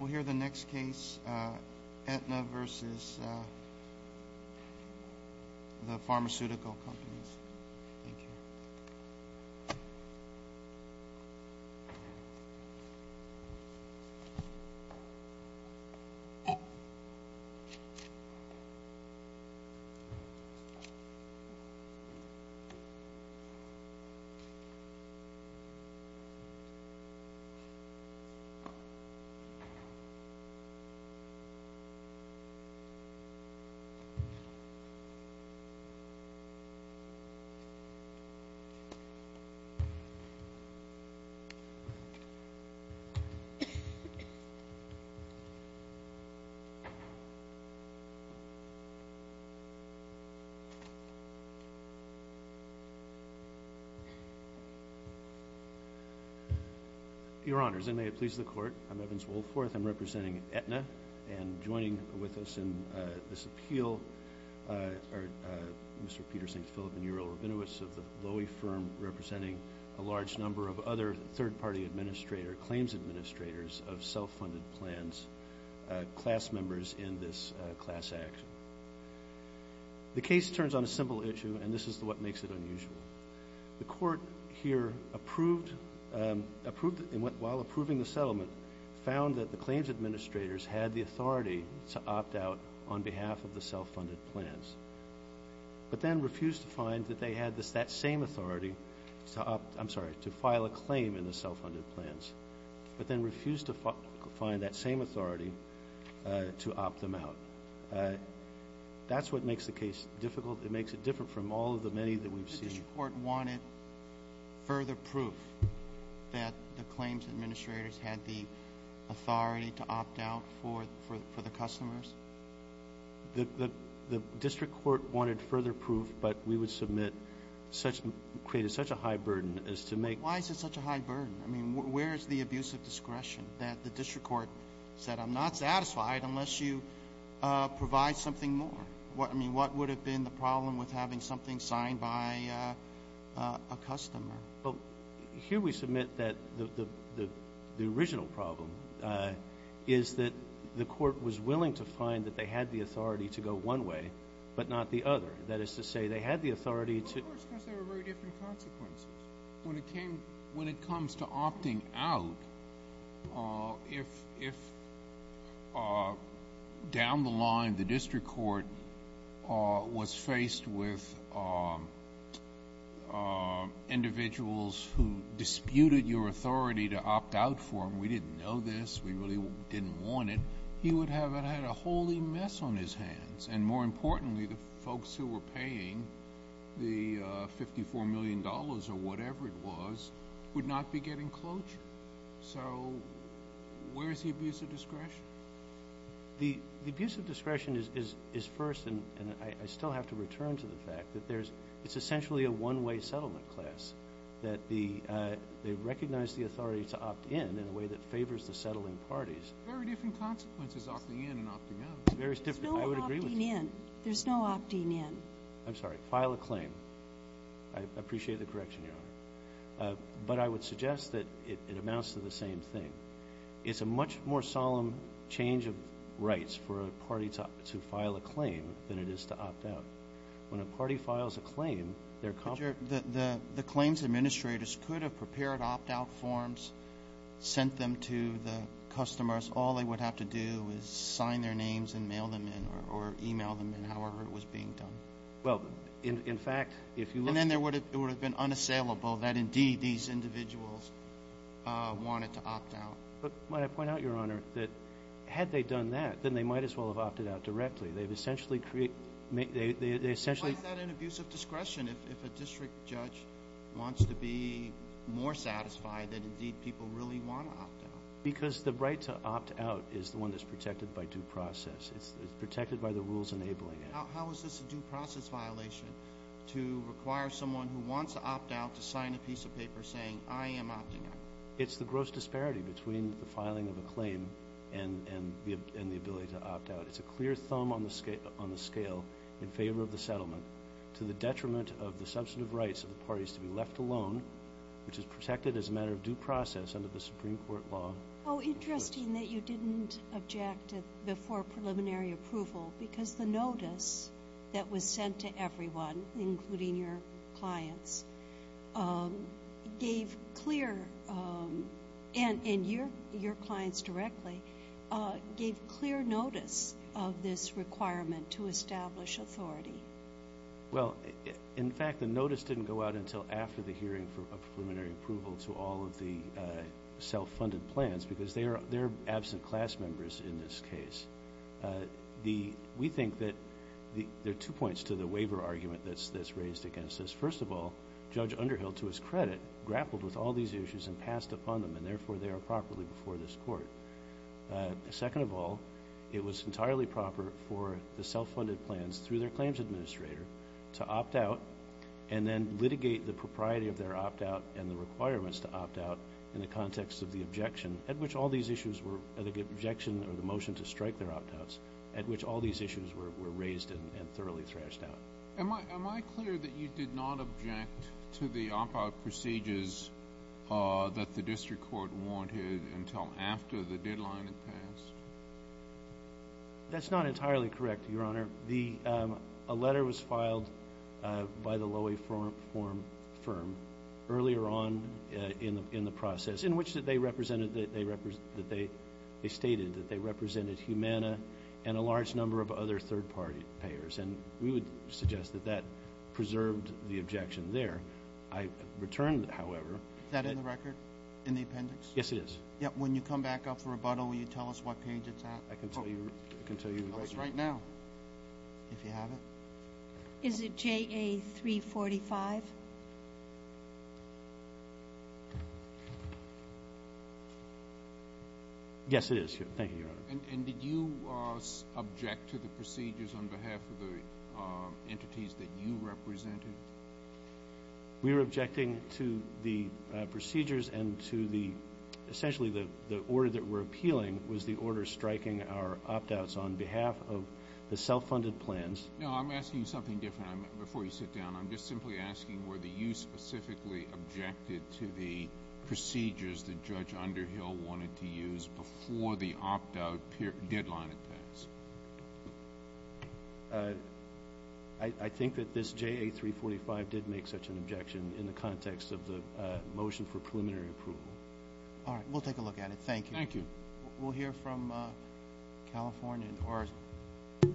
We'll hear the next case, Aetna versus the pharmaceutical companies. Evans-Wolf. Your Honors, and may it please the Court, I'm Evans-Wolf. I'm representing Aetna and joining with us in this appeal are Mr. Peter St. Philip and Uriel Rabinowitz of the Lowy Firm, representing a large number of other third-party claims administrators of self-funded plans, class members in this class act. The case turns on a simple issue, and this is what makes it unusual. The Court here, while approving the settlement, found that the claims administrators had the authority to opt out on behalf of the self-funded plans, but then refused to find that they had that same authority to file a claim in the self-funded plans, but then refused to find that same authority to opt them out. That's what makes the case difficult. It makes it different from all of the many that we've seen. The District Court wanted further proof that the claims administrators had the authority to opt out for the customers? The District Court wanted further proof, but we would submit such – created such a high burden as to make – Why is it such a high burden? I mean, where is the abuse of discretion that the District Court said, I'm not satisfied unless you provide something more? What would have been the problem with having something signed by a customer? Here we submit that the original problem is that the Court was willing to find that they had the authority to go one way, but not the other. That is to say, they had the authority to – Well, of course, because there were very different consequences when it came – when it comes to opting out, if down the line the District Court was faced with individuals who disputed your authority to opt out for them, we didn't know this, we really didn't want it, he would have had a holy mess on his hands, and more importantly, the folks who were paying the So, where is the abuse of discretion? The abuse of discretion is first, and I still have to return to the fact that there's – it's essentially a one-way settlement class, that the – they recognize the authority to opt in in a way that favors the settling parties. Very different consequences, opting in and opting out. There's no opting in, there's no opting in. I'm sorry, file a claim. I appreciate the correction, Your Honor, but I would suggest that it amounts to the same thing. It's a much more solemn change of rights for a party to file a claim than it is to opt out. When a party files a claim, their – But, your – the claims administrators could have prepared opt-out forms, sent them to the customers, all they would have to do is sign their names and mail them in, or email them in, however it was being done. Well, in fact, if you look – And then there would have been unassailable that indeed these individuals wanted to opt out. But, might I point out, Your Honor, that had they done that, then they might as well have opted out directly. They've essentially created – they essentially – Why is that an abuse of discretion if a district judge wants to be more satisfied that indeed people really want to opt out? Because the right to opt out is the one that's protected by due process. It's protected by the rules enabling it. How is this a due process violation to require someone who wants to opt out to sign a piece of paper saying, I am opting out? It's the gross disparity between the filing of a claim and the ability to opt out. It's a clear thumb on the scale in favor of the settlement to the detriment of the substantive rights of the parties to be left alone, which is protected as a matter of due process under the Supreme Court law. How interesting that you didn't object before preliminary approval because the notice that was sent to everyone, including your clients, gave clear – and your clients directly – gave clear notice of this requirement to establish authority. Well, in fact, the notice didn't go out until after the hearing for preliminary approval to all of the self-funded plans because they are absent class members in this case. We think that – there are two points to the waiver argument that's raised against this. First of all, Judge Underhill, to his credit, grappled with all these issues and passed upon them and therefore they are properly before this court. Second of all, it was entirely proper for the self-funded plans through their claims administrator to opt out and then litigate the propriety of their opt-out and the requirements to opt out in the context of the objection at which all these issues were – the objection or the motion to strike their opt-outs – at which all these issues were raised and thoroughly thrashed out. Am I clear that you did not object to the opt-out procedures that the district court wanted until after the deadline had passed? That's not entirely correct, Your Honor. Your Honor, the – a letter was filed by the Lowy firm earlier on in the process in which they represented – they stated that they represented Humana and a large number of other third-party payers and we would suggest that that preserved the objection there. I return, however – Is that in the record, in the appendix? Yes, it is. Yeah, when you come back up for rebuttal, will you tell us what page it's at? I can tell you right now. Tell us right now. If you have it. Is it JA-345? Yes, it is. Thank you, Your Honor. And did you object to the procedures on behalf of the entities that you represented? We were objecting to the procedures and to the – essentially, the order that we're The self-funded plans. No, I'm asking you something different. Before you sit down, I'm just simply asking were you specifically objected to the procedures that Judge Underhill wanted to use before the opt-out deadline had passed? I think that this JA-345 did make such an objection in the context of the motion for preliminary approval. All right. We'll take a look at it. Thank you. Thank you. We'll hear from California or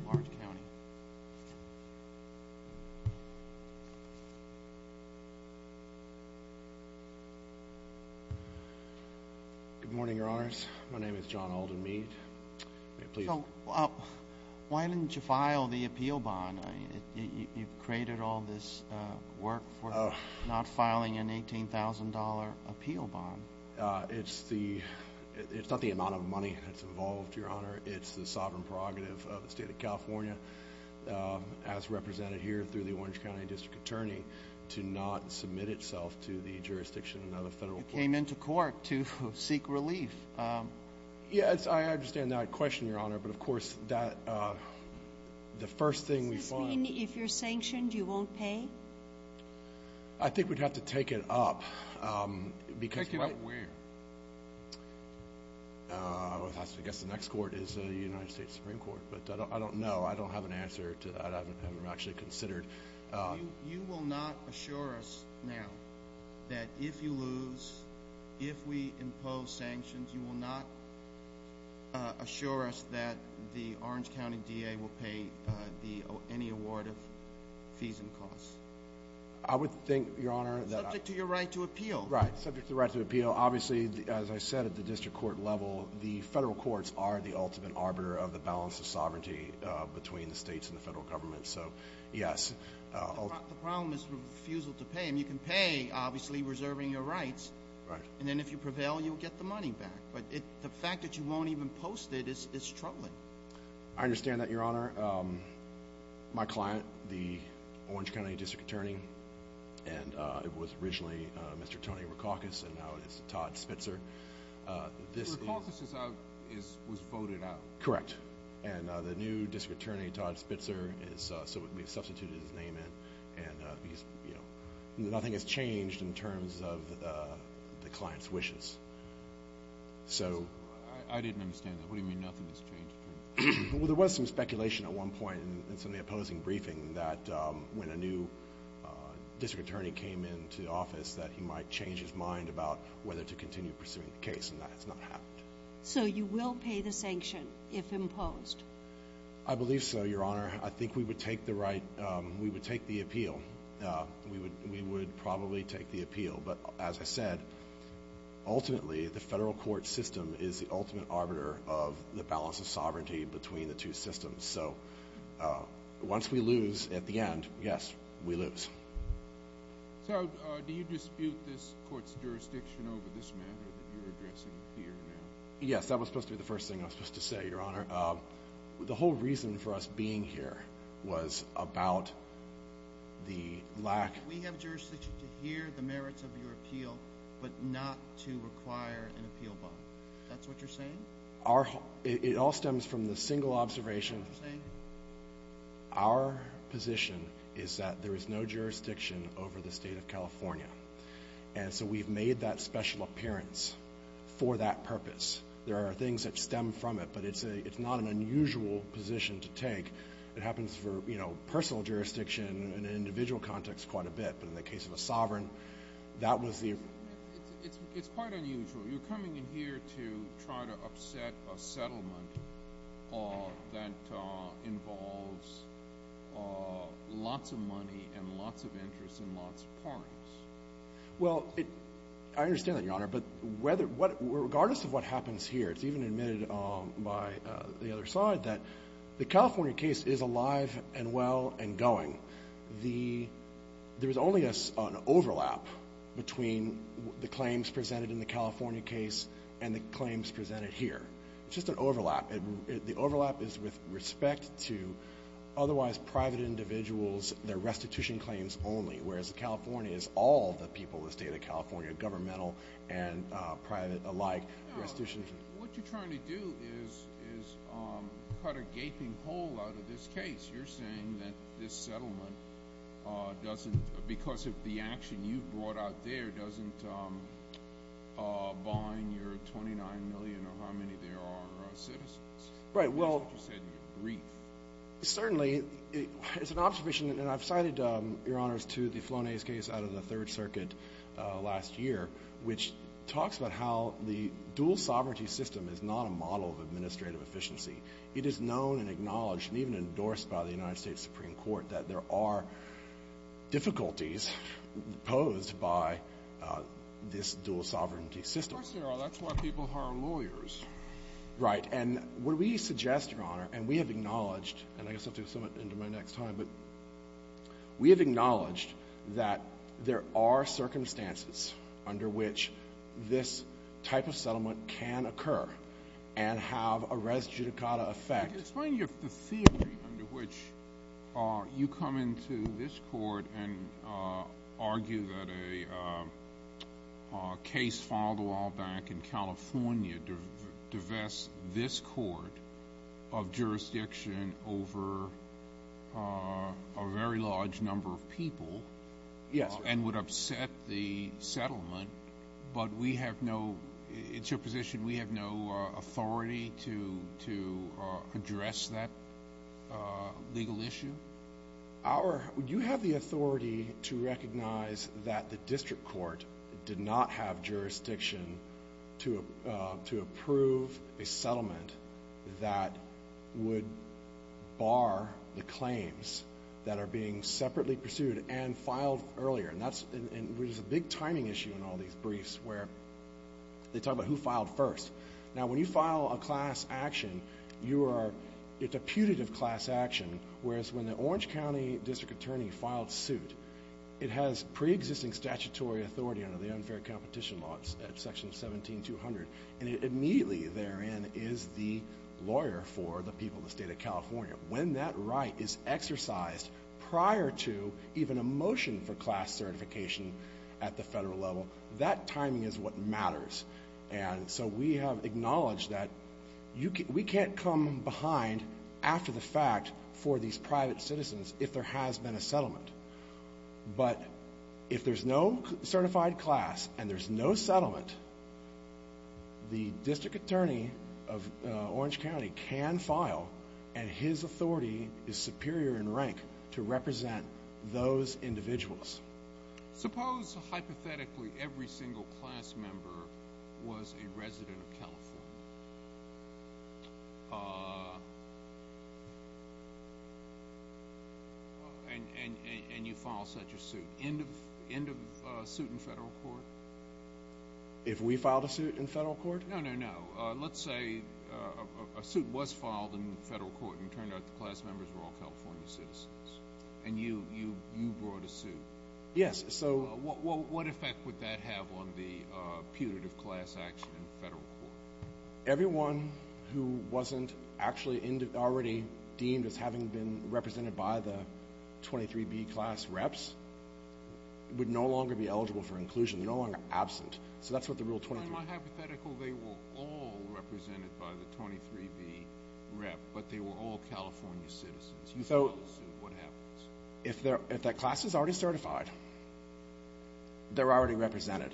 Orange County. Good morning, Your Honors. My name is John Alden Mead. May I please? So, why didn't you file the appeal bond? You've created all this work for not filing an $18,000 appeal bond. It's the – it's not the amount of money that's involved, Your Honor. It's the sovereign prerogative of the state of California, as represented here through the Orange County District Attorney, to not submit itself to the jurisdiction of the federal courts. You came into court to seek relief. Yes, I understand that question, Your Honor, but of course, that – the first thing we find – Does this mean if you're sanctioned, you won't pay? I think we'd have to take it up because – Take it up where? I guess the next court is the United States Supreme Court, but I don't know. I don't have an answer to that. I haven't actually considered – You will not assure us now that if you lose – if we impose sanctions, you will not assure us that the Orange County DA will pay the – any award of fees and costs? I would think, Your Honor, that – Subject to your right to appeal. Right. Subject to the right to appeal. Obviously, as I said at the district court level, the federal courts are the ultimate arbiter of the balance of sovereignty between the states and the federal government. So, yes. The problem is refusal to pay. I mean, you can pay, obviously, reserving your rights. Right. And then if you prevail, you'll get the money back. But the fact that you won't even post it is troubling. I understand that, Your Honor. My client, the Orange County District Attorney, and it was originally Mr. Tony Rikakis, and now it is Todd Spitzer. Rikakis is out – was voted out. Correct. And the new district attorney, Todd Spitzer, is – so we've substituted his name in. And he's – you know, nothing has changed in terms of the client's wishes. So – I didn't understand that. What do you mean, nothing has changed? Well, there was some speculation at one point in some of the opposing briefing that when a new district attorney came into office, that he might change his mind about whether to continue pursuing the case. And that has not happened. So you will pay the sanction if imposed? I believe so, Your Honor. I think we would take the right – we would take the appeal. We would probably take the appeal. But as I said, ultimately, the federal court system is the ultimate arbiter of the balance of sovereignty between the two systems. So once we lose at the end, yes, we lose. So do you dispute this court's jurisdiction over this matter that you're addressing here now? Yes, that was supposed to be the first thing I was supposed to say, Your Honor. The whole reason for us being here was about the lack – We have jurisdiction to hear the merits of your appeal, but not to require an appeal bond. That's what you're saying? It all stems from the single observation – What are you saying? Our position is that there is no jurisdiction over the state of California. And so we've made that special appearance for that purpose. There are things that stem from it, but it's not an unusual position to take. It happens for personal jurisdiction in an individual context quite a bit, but in the case of a sovereign, that was the – It's quite unusual. You're coming in here to try to upset a settlement that involves lots of money and lots of interest and lots of parties. Well, I understand that, Your Honor. But regardless of what happens here, it's even admitted by the other side that the California case is alive and well and going. There's only an overlap between the claims presented in the California case and the claims presented here. It's just an overlap. The overlap is with respect to otherwise private individuals, their restitution claims only, whereas California is all the people of the state of California, governmental and private alike. What you're trying to do is cut a gaping hole out of this case. You're saying that this settlement doesn't – because of the action you've brought out there, doesn't bind your 29 million or how many there are citizens. Right, well – That's what you said in your brief. Certainly, it's an observation – and I've cited, Your Honors, to the Flonase case out of the Third Circuit last year, which talks about how the dual sovereignty system is not a model of administrative efficiency. It is known and acknowledged and even endorsed by the United States Supreme Court that there are difficulties posed by this dual sovereignty system. Of course there are. That's why people hire lawyers. Right. And what we suggest, Your Honor, and we have acknowledged – and I guess I'll do some of it into my next time – but we have acknowledged that there are circumstances under which this type of settlement can occur and have a res judicata effect. Explain the theory under which you come into this court and argue that a case filed a while back in California divests this court of jurisdiction over a very large number of people – Yes. And would upset the settlement, but we have no – it's your position we have no authority to address that legal issue? Our – you have the authority to recognize that the district court did not have jurisdiction to approve a settlement that would bar the claims that are being separately pursued and filed earlier. And that's – and there's a big timing issue in all these briefs where they talk about who filed first. Now, when you file a class action, you are – it's a putative class action, whereas when the Orange County district attorney filed suit, it has preexisting statutory authority under the unfair competition law. It's section 17200. When that right is exercised prior to even a motion for class certification at the federal level, that timing is what matters. And so we have acknowledged that we can't come behind after the fact for these private citizens if there has been a settlement. But if there's no certified class and there's no settlement, the district attorney of Orange County's authority is superior in rank to represent those individuals. Suppose hypothetically every single class member was a resident of California and you file such a suit. End of suit in federal court? If we filed a suit in federal court? No, no, no. Let's say a suit was filed in federal court and it turned out the class members were all California citizens and you brought a suit. Yes. So what effect would that have on the putative class action in federal court? Everyone who wasn't actually already deemed as having been represented by the 23B class reps would no longer be eligible for inclusion. They're no longer absent. So that's what the Rule 23… Well, in my hypothetical, they were all represented by the 23B rep, but they were all California citizens. You filed a suit. What happens? If that class is already certified, they're already represented.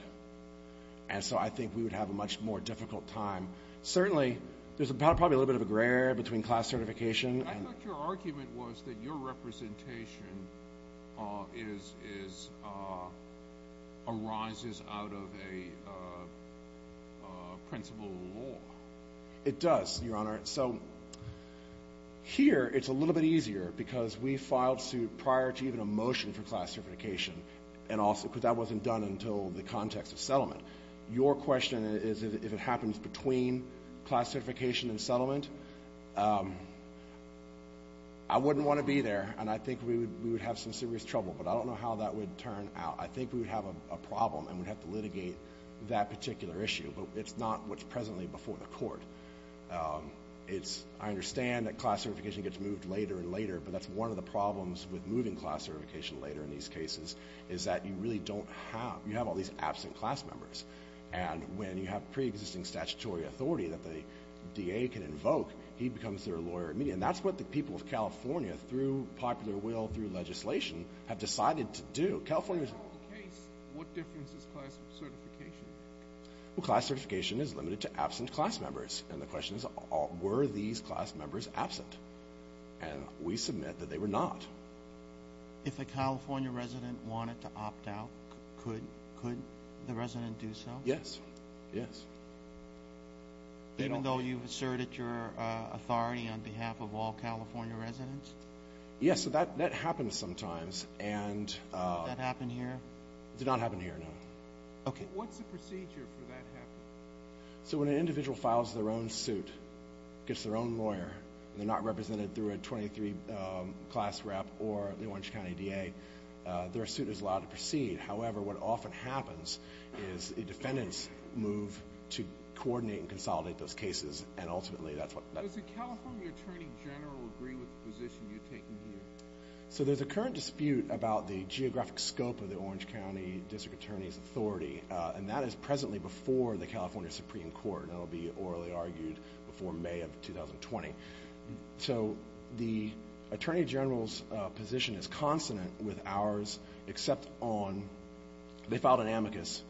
And so I think we would have a much more difficult time. Certainly, there's probably a little bit of a gray area between class certification and… Your argument was that your representation arises out of a principle of law. It does, Your Honor. So here, it's a little bit easier because we filed suit prior to even a motion for class certification, because that wasn't done until the context of settlement. Your question is, if it happens between class certification and settlement, I wouldn't want to be there, and I think we would have some serious trouble. But I don't know how that would turn out. I think we would have a problem, and we'd have to litigate that particular issue. It's not what's presently before the court. I understand that class certification gets moved later and later, but that's one of the problems with moving class certification later in these cases, is that you really don't have – you have all these absent class members. And when you have preexisting statutory authority that the DA can invoke, he becomes their lawyer immediately. And that's what the people of California, through popular will, through legislation, have decided to do. California's… In this whole case, what difference does class certification make? Well, class certification is limited to absent class members. And the question is, were these class members absent? And we submit that they were not. If a California resident wanted to opt out, could the resident do so? Yes. Yes. Even though you've asserted your authority on behalf of all California residents? Yes. So that happens sometimes, and… Did that happen here? It did not happen here, no. Okay. What's the procedure for that happening? So when an individual files their own suit, gets their own lawyer, and they're not represented through a 23 class rep or the Orange County DA, their suit is allowed to proceed. However, what often happens is a defendant's move to coordinate and consolidate those cases. And ultimately, that's what… Does the California Attorney General agree with the position you're taking here? So there's a current dispute about the geographic scope of the Orange County District Attorney's authority. And that is presently before the California Supreme Court. That will be orally argued before May of 2020. So the Attorney General's position is consonant with ours, except on… They filed an amicus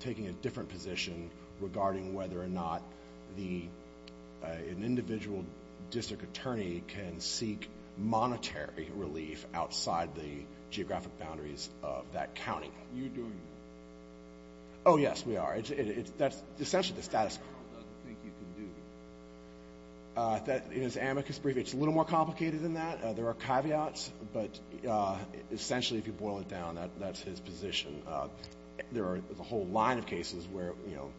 taking a different position regarding whether or not an individual district attorney can seek monetary relief outside the geographic boundaries of that county. You're doing that? Oh, yes, we are. That's essentially the status quo. What does the Attorney General think you can do? In his amicus brief, it's a little more complicated than that. There are caveats, but essentially, if you boil it down, that's his position. There are a whole line of cases where, you know,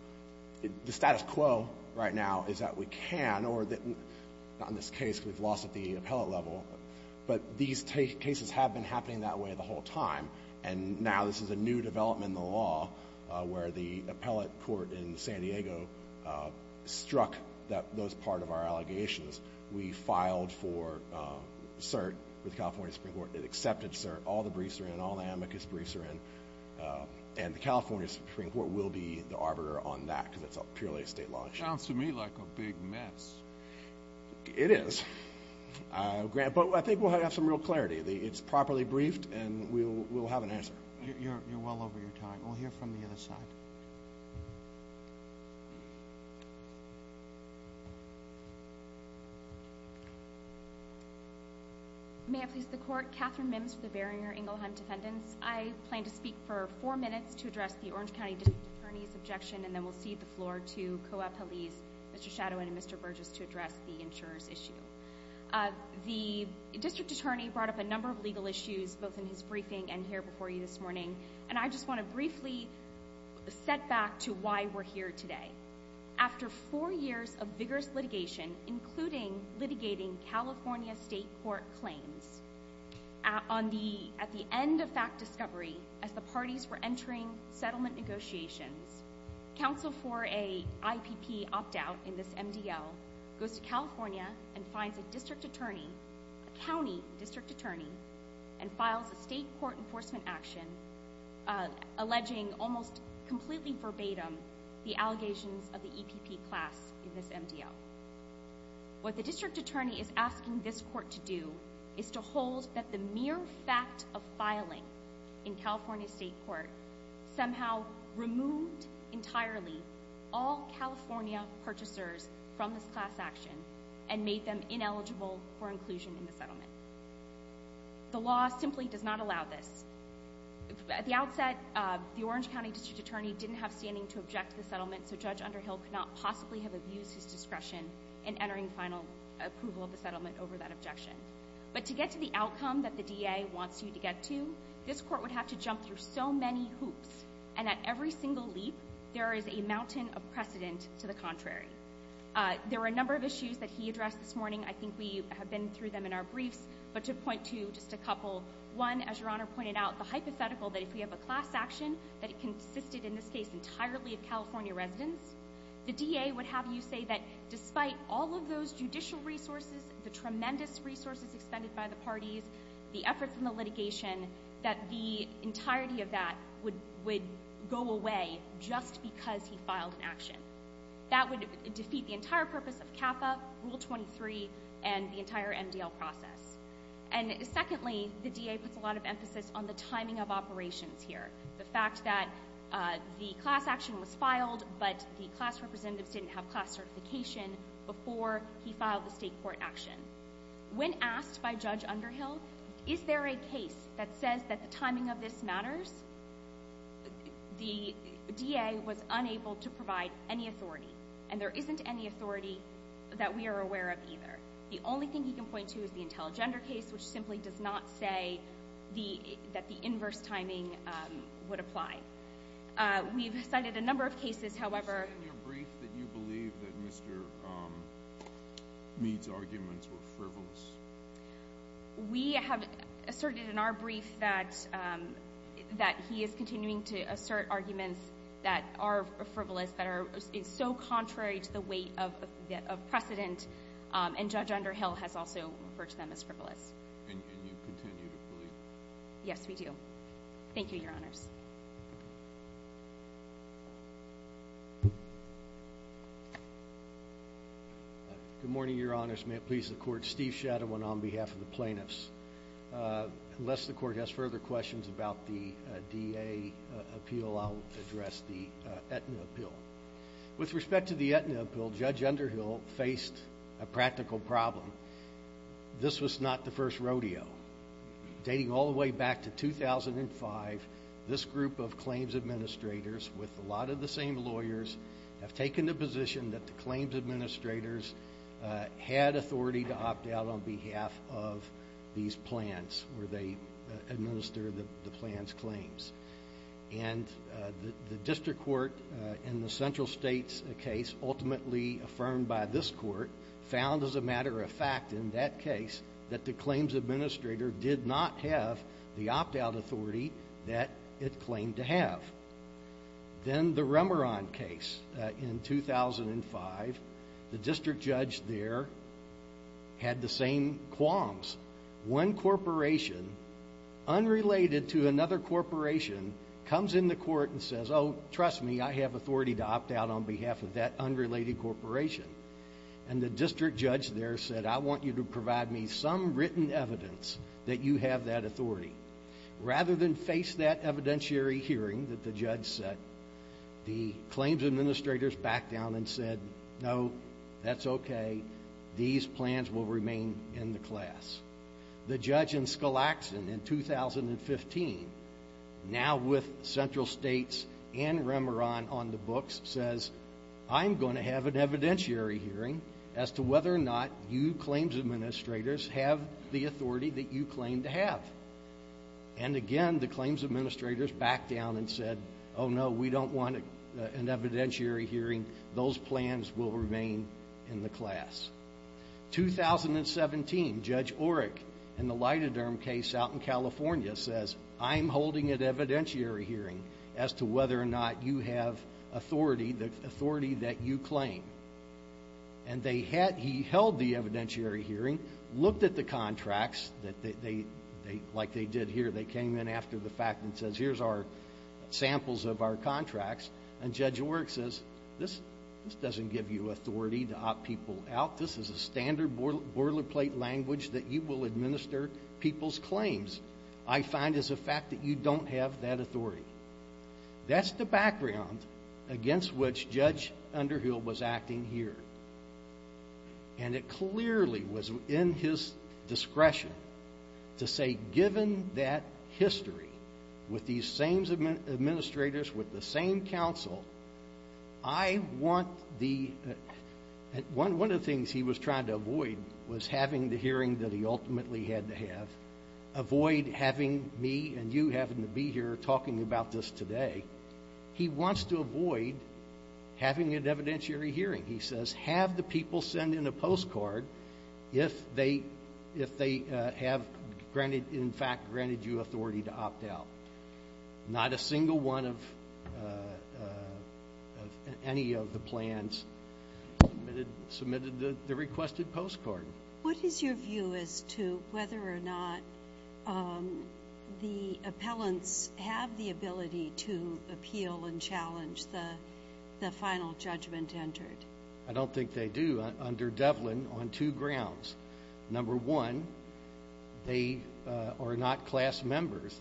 the status quo right now is that we can or… Not in this case, because we've lost at the appellate level, but these cases have been happening that way the whole time. And now this is a new development in the law where the appellate court in San Diego struck those part of our allegations. We filed for cert with the California Supreme Court. It accepted cert. All the briefs are in. All the amicus briefs are in. And the California Supreme Court will be the arbiter on that, because it's purely a state law issue. Sounds to me like a big mess. It is. But I think we'll have some real clarity. It's properly briefed, and we'll have an answer. You're well over your time. We'll hear from the other side. May I please the court? Catherine Mims for the Barrier-Ingleheim Defendants. I plan to speak for four minutes to address the Orange County District Attorney's objection, and then we'll cede the floor to COAP police, Mr. Shadowin and Mr. Burgess, to address the insurer's issue. The District Attorney brought up a number of legal issues, both in his briefing and here before you this morning, and I just want to briefly set back to why we're here today. After four years of vigorous litigation, including litigating California state court claims, at the end of fact discovery, as the parties were entering settlement negotiations, counsel for an IPP opt-out in this MDL goes to California and finds a district attorney, a county district attorney, and files a state court enforcement action alleging almost completely verbatim the allegations of the EPP class in this MDL. What the District Attorney is asking this court to do is to hold that the mere fact of filing in California state court somehow removed entirely all California purchasers from this class action and made them ineligible for inclusion in the settlement. The law simply does not allow this. At the outset, the Orange County District Attorney didn't have standing to object to the settlement, so Judge Underhill could not possibly have abused his discretion in entering final approval of the settlement over that objection. But to get to the outcome that the DA wants you to get to, this court would have to jump through so many hoops, and at every single leap, there is a mountain of precedent to the contrary. There were a number of issues that he addressed this morning. I think we have been through them in our briefs, but to point to just a couple. One, as Your Honor pointed out, the hypothetical that if we have a class action that it consisted, in this case, entirely of California residents, the DA would have you say that despite all of those judicial resources, the tremendous resources expended by the parties, the efforts and the litigation, that the entirety of that would go away just because he filed an action. That would defeat the entire purpose of CAFA, Rule 23, and the entire MDL process. And secondly, the DA puts a lot of emphasis on the timing of operations here. The fact that the class action was filed, but the class representatives didn't have the class certification before he filed the state court action. When asked by Judge Underhill, is there a case that says that the timing of this matters, the DA was unable to provide any authority. And there isn't any authority that we are aware of either. The only thing he can point to is the Intelligender case, which simply does not say that the inverse timing would apply. We've cited a number of cases, however... You said in your brief that you believe that Mr. Meade's arguments were frivolous. We have asserted in our brief that he is continuing to assert arguments that are frivolous, that are so contrary to the weight of precedent. And Judge Underhill has also referred to them as frivolous. And you continue to believe that? Yes, we do. Thank you, Your Honors. Good morning, Your Honors. May it please the Court, Steve Shadowin on behalf of the plaintiffs. Unless the Court has further questions about the DA appeal, I'll address the Aetna appeal. With respect to the Aetna appeal, Judge Underhill faced a practical problem. This was not the first rodeo. Dating all the way back to 2005, this group of claims administrators, with a lot of the same lawyers, have taken the position that the claims administrators had authority to opt out on behalf of these plans, where they administer the plans' claims. And the district court in the Central States case, ultimately affirmed by this court, found as a matter of fact in that case that the claims administrator did not have the opt-out authority that it claimed to have. Then the Remeron case in 2005, the district judge there had the same qualms. One corporation, unrelated to another corporation, comes in the court and says, oh, trust me, I have authority to opt out on behalf of that unrelated corporation. And the district judge there said, I want you to provide me some written evidence that you have that authority. Rather than face that evidentiary hearing that the judge set, the claims administrators backed down and said, no, that's okay. These plans will remain in the class. The judge in Skalaksen in 2015, now with Central States and Remeron on the books, says, I'm going to have an evidentiary hearing as to whether or not you claims administrators have the authority that you claim to have. And again, the claims administrators backed down and said, oh, no, we don't want an evidentiary hearing. Those plans will remain in the class. 2017, Judge Orrick in the Lydenderm case out in California says, I'm holding an evidentiary hearing as to whether or not you have authority, the authority that you claim. And he held the evidentiary hearing, looked at the contracts, like they did here, they came in after the fact and says, here's our samples of our contracts. And Judge Orrick says, this doesn't give you authority to opt people out. This is a standard boilerplate language that you will administer people's claims. I find as a fact that you don't have that authority. That's the background against which Judge Underhill was acting here. And it clearly was in his discretion to say, given that history with these same administrators, with the same counsel, I want the, one of the things he was trying to avoid was having the hearing that he ultimately had to have. Avoid having me and you having to be here talking about this today. He wants to avoid having an evidentiary hearing. He says, have the people send in a postcard if they have granted, in fact, granted you authority to opt out. Not a single one of any of the plans submitted the requested postcard. What is your view as to whether or not the appellants have the ability to appeal and challenge the final judgment entered? I don't think they do under Devlin on two grounds. Number one, they are not class members.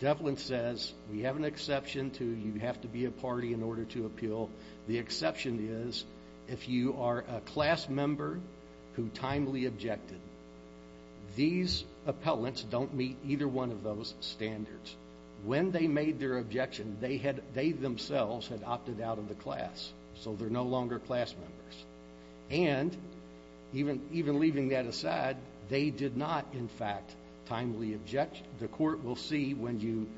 Devlin says, we have an exception to you have to be a party in order to appeal. The exception is if you are a class member who timely objected. These appellants don't meet either one of those standards. When they made their objection, they themselves had opted out of the class. So they're no longer class members. And even leaving that aside, they did not, in fact, timely object. The court will see when you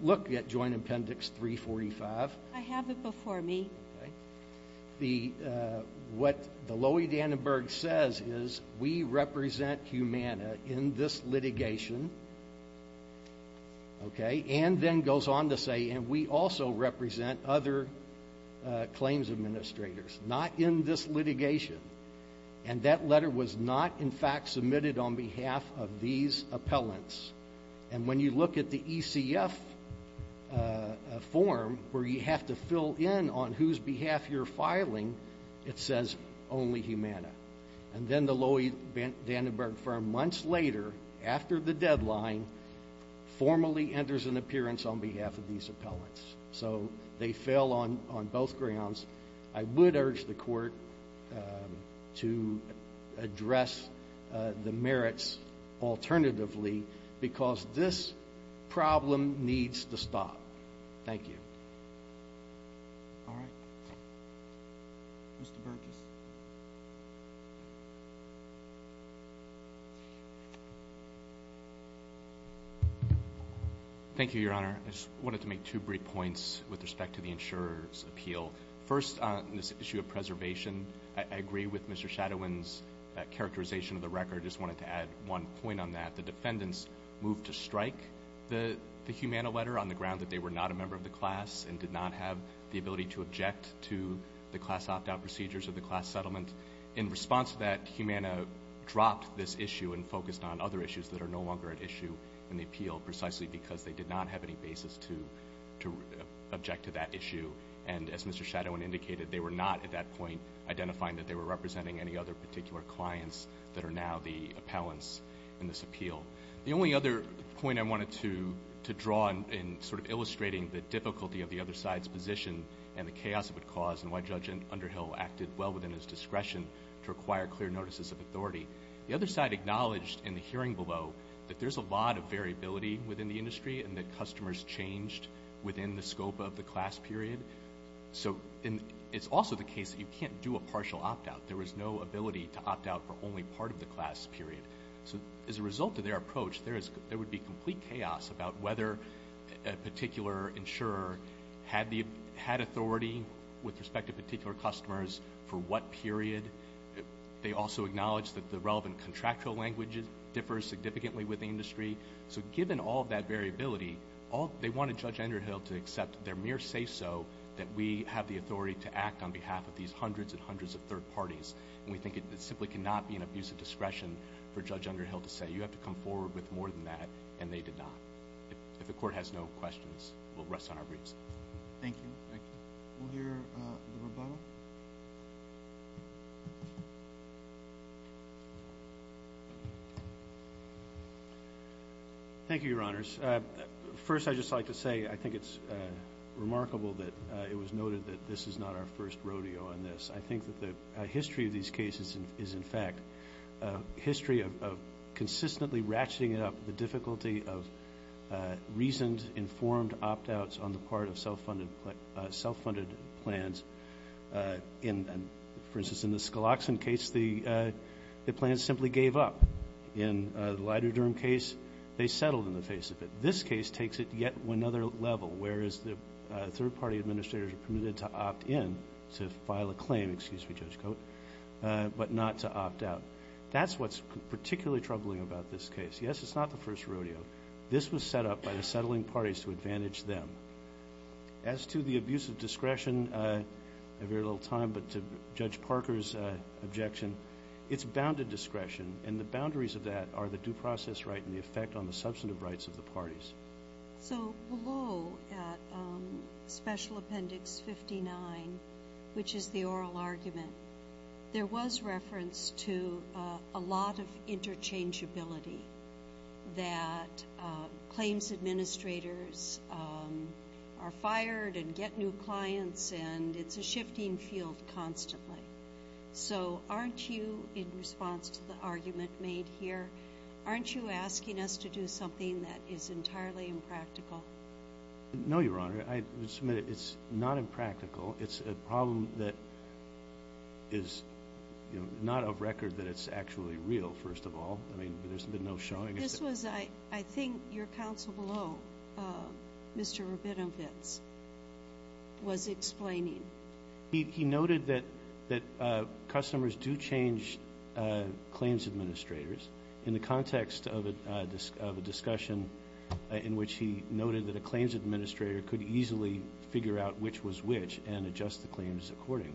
look at Joint Appendix 345. I have it before me. What Loie Dannenberg says is, we represent Humana in this litigation. And then goes on to say, and we also represent other claims administrators. Not in this litigation. And that letter was not, in fact, submitted on behalf of these appellants. And when you look at the ECF form, where you have to fill in on whose behalf you're filing, it says only Humana. And then the Loie Dannenberg firm, months later, after the deadline, formally enters an appearance on behalf of these appellants. So they fail on both grounds. I would urge the court to address the merits alternatively. Because this problem needs to stop. Thank you. Thank you, Your Honor. I just wanted to make two brief points with respect to the insurer's appeal. First, on this issue of preservation, I agree with Mr. Shadowin's characterization of the record. I just wanted to add one point on that. The defendants moved to strike the Humana letter on the ground that they were not a member of the class and did not have the ability to object to the class opt-out procedures of the class settlement. In response to that, Humana dropped this issue and focused on other issues that are no longer at issue in the appeal, precisely because they did not have any basis to object to that issue. And as Mr. Shadowin indicated, they were not, at that point, identifying that they were representing any other particular clients that are now the appellants in this appeal. The only other point I wanted to draw in sort of illustrating the difficulty of the other side's position and the chaos it would cause and why Judge Underhill acted well within his discretion to acquire clear notices of authority, the other side acknowledged in the hearing below that there's a lot of variability within the industry and that customers changed within the scope of the class period. So it's also the case that you can't do a partial opt-out. There was no ability to opt-out for only part of the class period. So as a result of their approach, there would be complete chaos about whether a particular insurer had authority with respect to particular customers for what period. They also acknowledged that the relevant contractual language differs significantly with the industry. So given all that variability, they wanted Judge Underhill to accept their mere say-so that we have the authority to act on behalf of these hundreds and hundreds of third parties. And we think it simply cannot be an abuse of discretion for Judge Underhill to say you have to come forward with more than that, and they did not. If the Court has no questions, we'll rest on our briefs. Thank you. Thank you. We'll hear the rebuttal. Thank you, Your Honors. First, I'd just like to say I think it's remarkable that it was noted that this is not our first rodeo on this. I think that the history of these cases is, in fact, a history of consistently ratcheting up the difficulty of reasoned, informed opt-outs on the part of self-funded plans. For instance, in the Scaloxin case, the plans simply gave up. In the lidoderm case, they settled in the face of it. This case takes it to yet another level, whereas the third-party administrators are permitted to opt in to file a claim, excuse me, Judge Cote, but not to opt out. That's what's particularly troubling about this case. Yes, it's not the first rodeo. This was set up by the settling parties to advantage them. As to the abuse of discretion, I have very little time, but to Judge Parker's objection, it's bounded discretion, and the boundaries of that are the due process right and the effect on the substantive rights of the parties. So, below Special Appendix 59, which is the oral argument, there was reference to a lot of interchangeability that claims administrators are fired and get new clients, and it's a shifting field constantly. So, aren't you, in response to the argument made here, aren't you asking us to do something that is entirely impractical? No, Your Honor. It's not impractical. It's a problem that is not of record that it's actually real, first of all. I mean, there's been no showing. This was, I think, your counsel below, Mr. Rabinovitz, was explaining. He noted that customers do change claims administrators in the context of a discussion in which he noted that a claims administrator could easily figure out which was which and adjust the claims accordingly.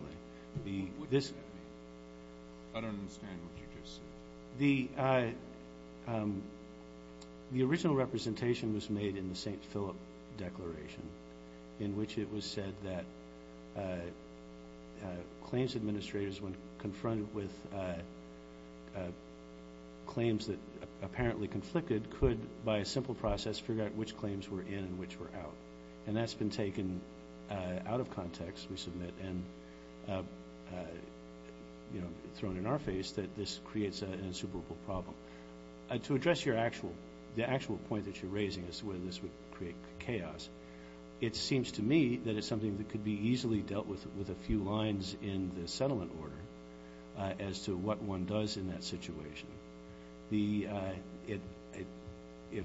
What does that mean? I don't understand what you just said. The original representation was made in the St. Philip Declaration, in which it was said that claims administrators, when confronted with claims that apparently conflicted, could, by a simple process, figure out which claims were in and which were out. And that's been taken out of context, we submit, and thrown in our face that this creates an insuperable problem. To address the actual point that you're raising, as to whether this would create chaos, it seems to me that it's something that could be easily dealt with with a few lines in the settlement order as to what one does in that situation. If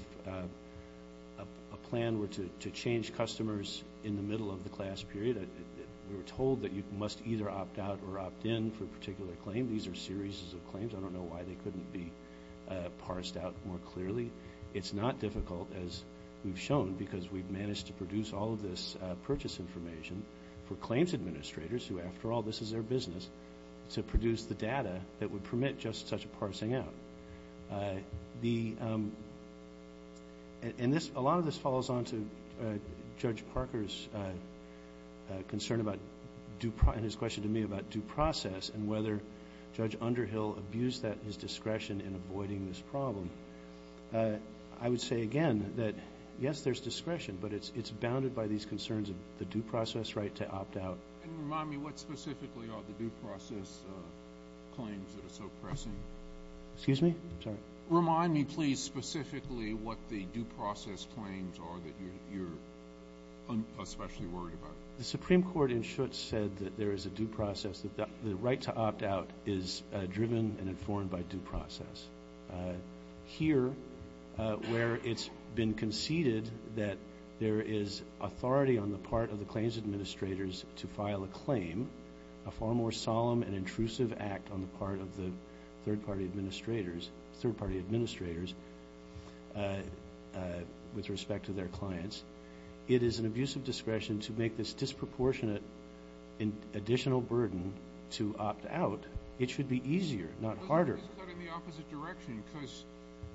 a plan were to change customers in the middle of the class period, we were told that you must either opt out or opt in for a particular claim. These are series of claims. I don't know why they couldn't be parsed out more clearly. It's not difficult, as we've shown, because we've managed to produce all of this purchase information for claims administrators, who, after all, this is their business, to produce the data that would permit just such a parsing out. A lot of this follows on to Judge Parker's concern about, and his question to me about due process, and whether Judge Underhill abused his discretion in avoiding this problem. I would say again that, yes, there's discretion, but it's bounded by these concerns of the due process right to opt out. And remind me, what specifically are the due process claims that are so pressing? Excuse me? Sorry. Remind me, please, specifically what the due process claims are that you're especially worried about? The Supreme Court in Schutz said that there is a due process, that the right to opt out is driven and informed by due process. Here, where it's been conceded that there is authority on the part of the claims administrators to file a claim, a far more solemn and intrusive act on the part of the third-party administrators, third-party administrators, with respect to their clients, it is an abusive discretion to make this disproportionate additional burden to opt out. It should be easier, not harder. But it is cut in the opposite direction,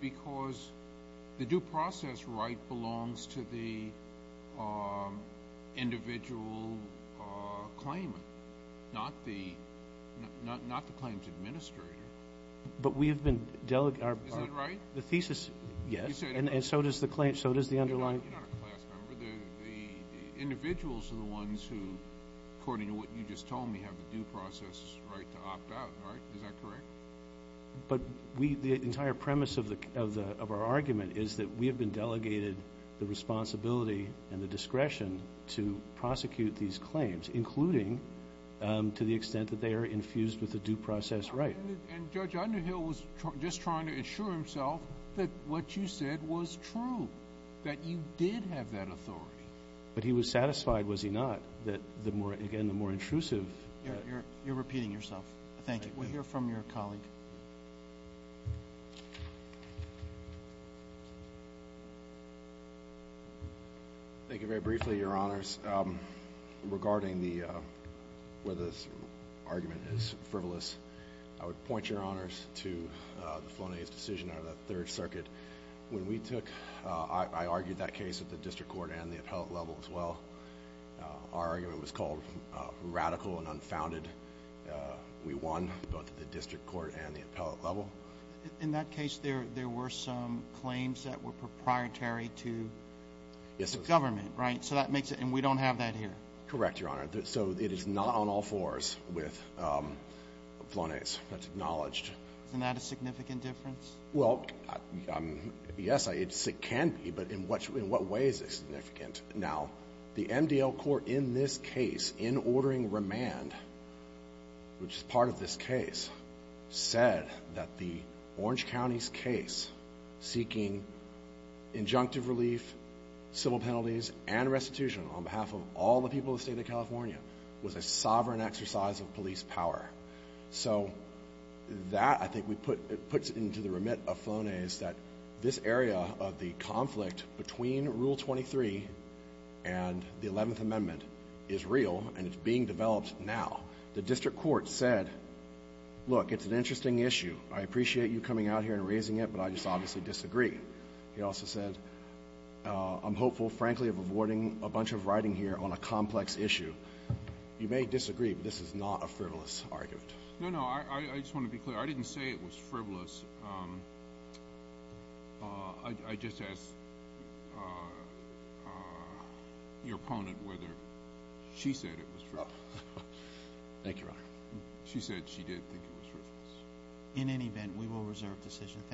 because the due process right belongs to the individual claimant, not the claims administrator. But we have been delegating... Is that right? The thesis, yes, and so does the underlying... You're not a class member. The individuals are the ones who, according to what you just told me, have the due process right to opt out, right? Is that correct? But the entire premise of our argument is that we have been delegated the responsibility and the discretion to prosecute these claims, including to the extent that they are infused with the due process right. And Judge Underhill was just trying to assure himself that what you said was true, that you did have that authority. But he was satisfied, was he not, that, again, the more intrusive... You're repeating yourself. Thank you. We'll hear from your colleague. Thank you. Very briefly, Your Honors, regarding where this argument is frivolous, I would point, Your Honors, to the Flonase decision out of the Third Circuit. When we took... I argued that case at the district court and the appellate level as well. Our argument was called radical and unfounded. We won both at the district court and the appellate level. In that case, there were some claims that were proprietary to the government, right? And we don't have that here. Correct, Your Honor. So it is not on all fours with Flonase. That's acknowledged. Isn't that a significant difference? Well, yes, it can be, but in what way is it significant? Now, the MDL court in this case, in ordering remand, which is part of this case, said that the Orange County's case, seeking injunctive relief, civil penalties, and restitution on behalf of all the people of the state of California, was a sovereign exercise of police power. So that, I think, puts it into the remit of Flonase that this area of the conflict between Rule 23 and the 11th Amendment is real, and it's being developed now. The district court said, look, it's an interesting issue. I appreciate you coming out here and raising it, but I just obviously disagree. He also said, I'm hopeful, frankly, of avoiding a bunch of writing here on a complex issue. You may disagree, but this is not a frivolous argument. No, no, I just want to be clear. I didn't say it was frivolous. I just asked your opponent whether she said it was frivolous. Thank you, Your Honor. She said she did think it was frivolous. In any event, we will reserve decision.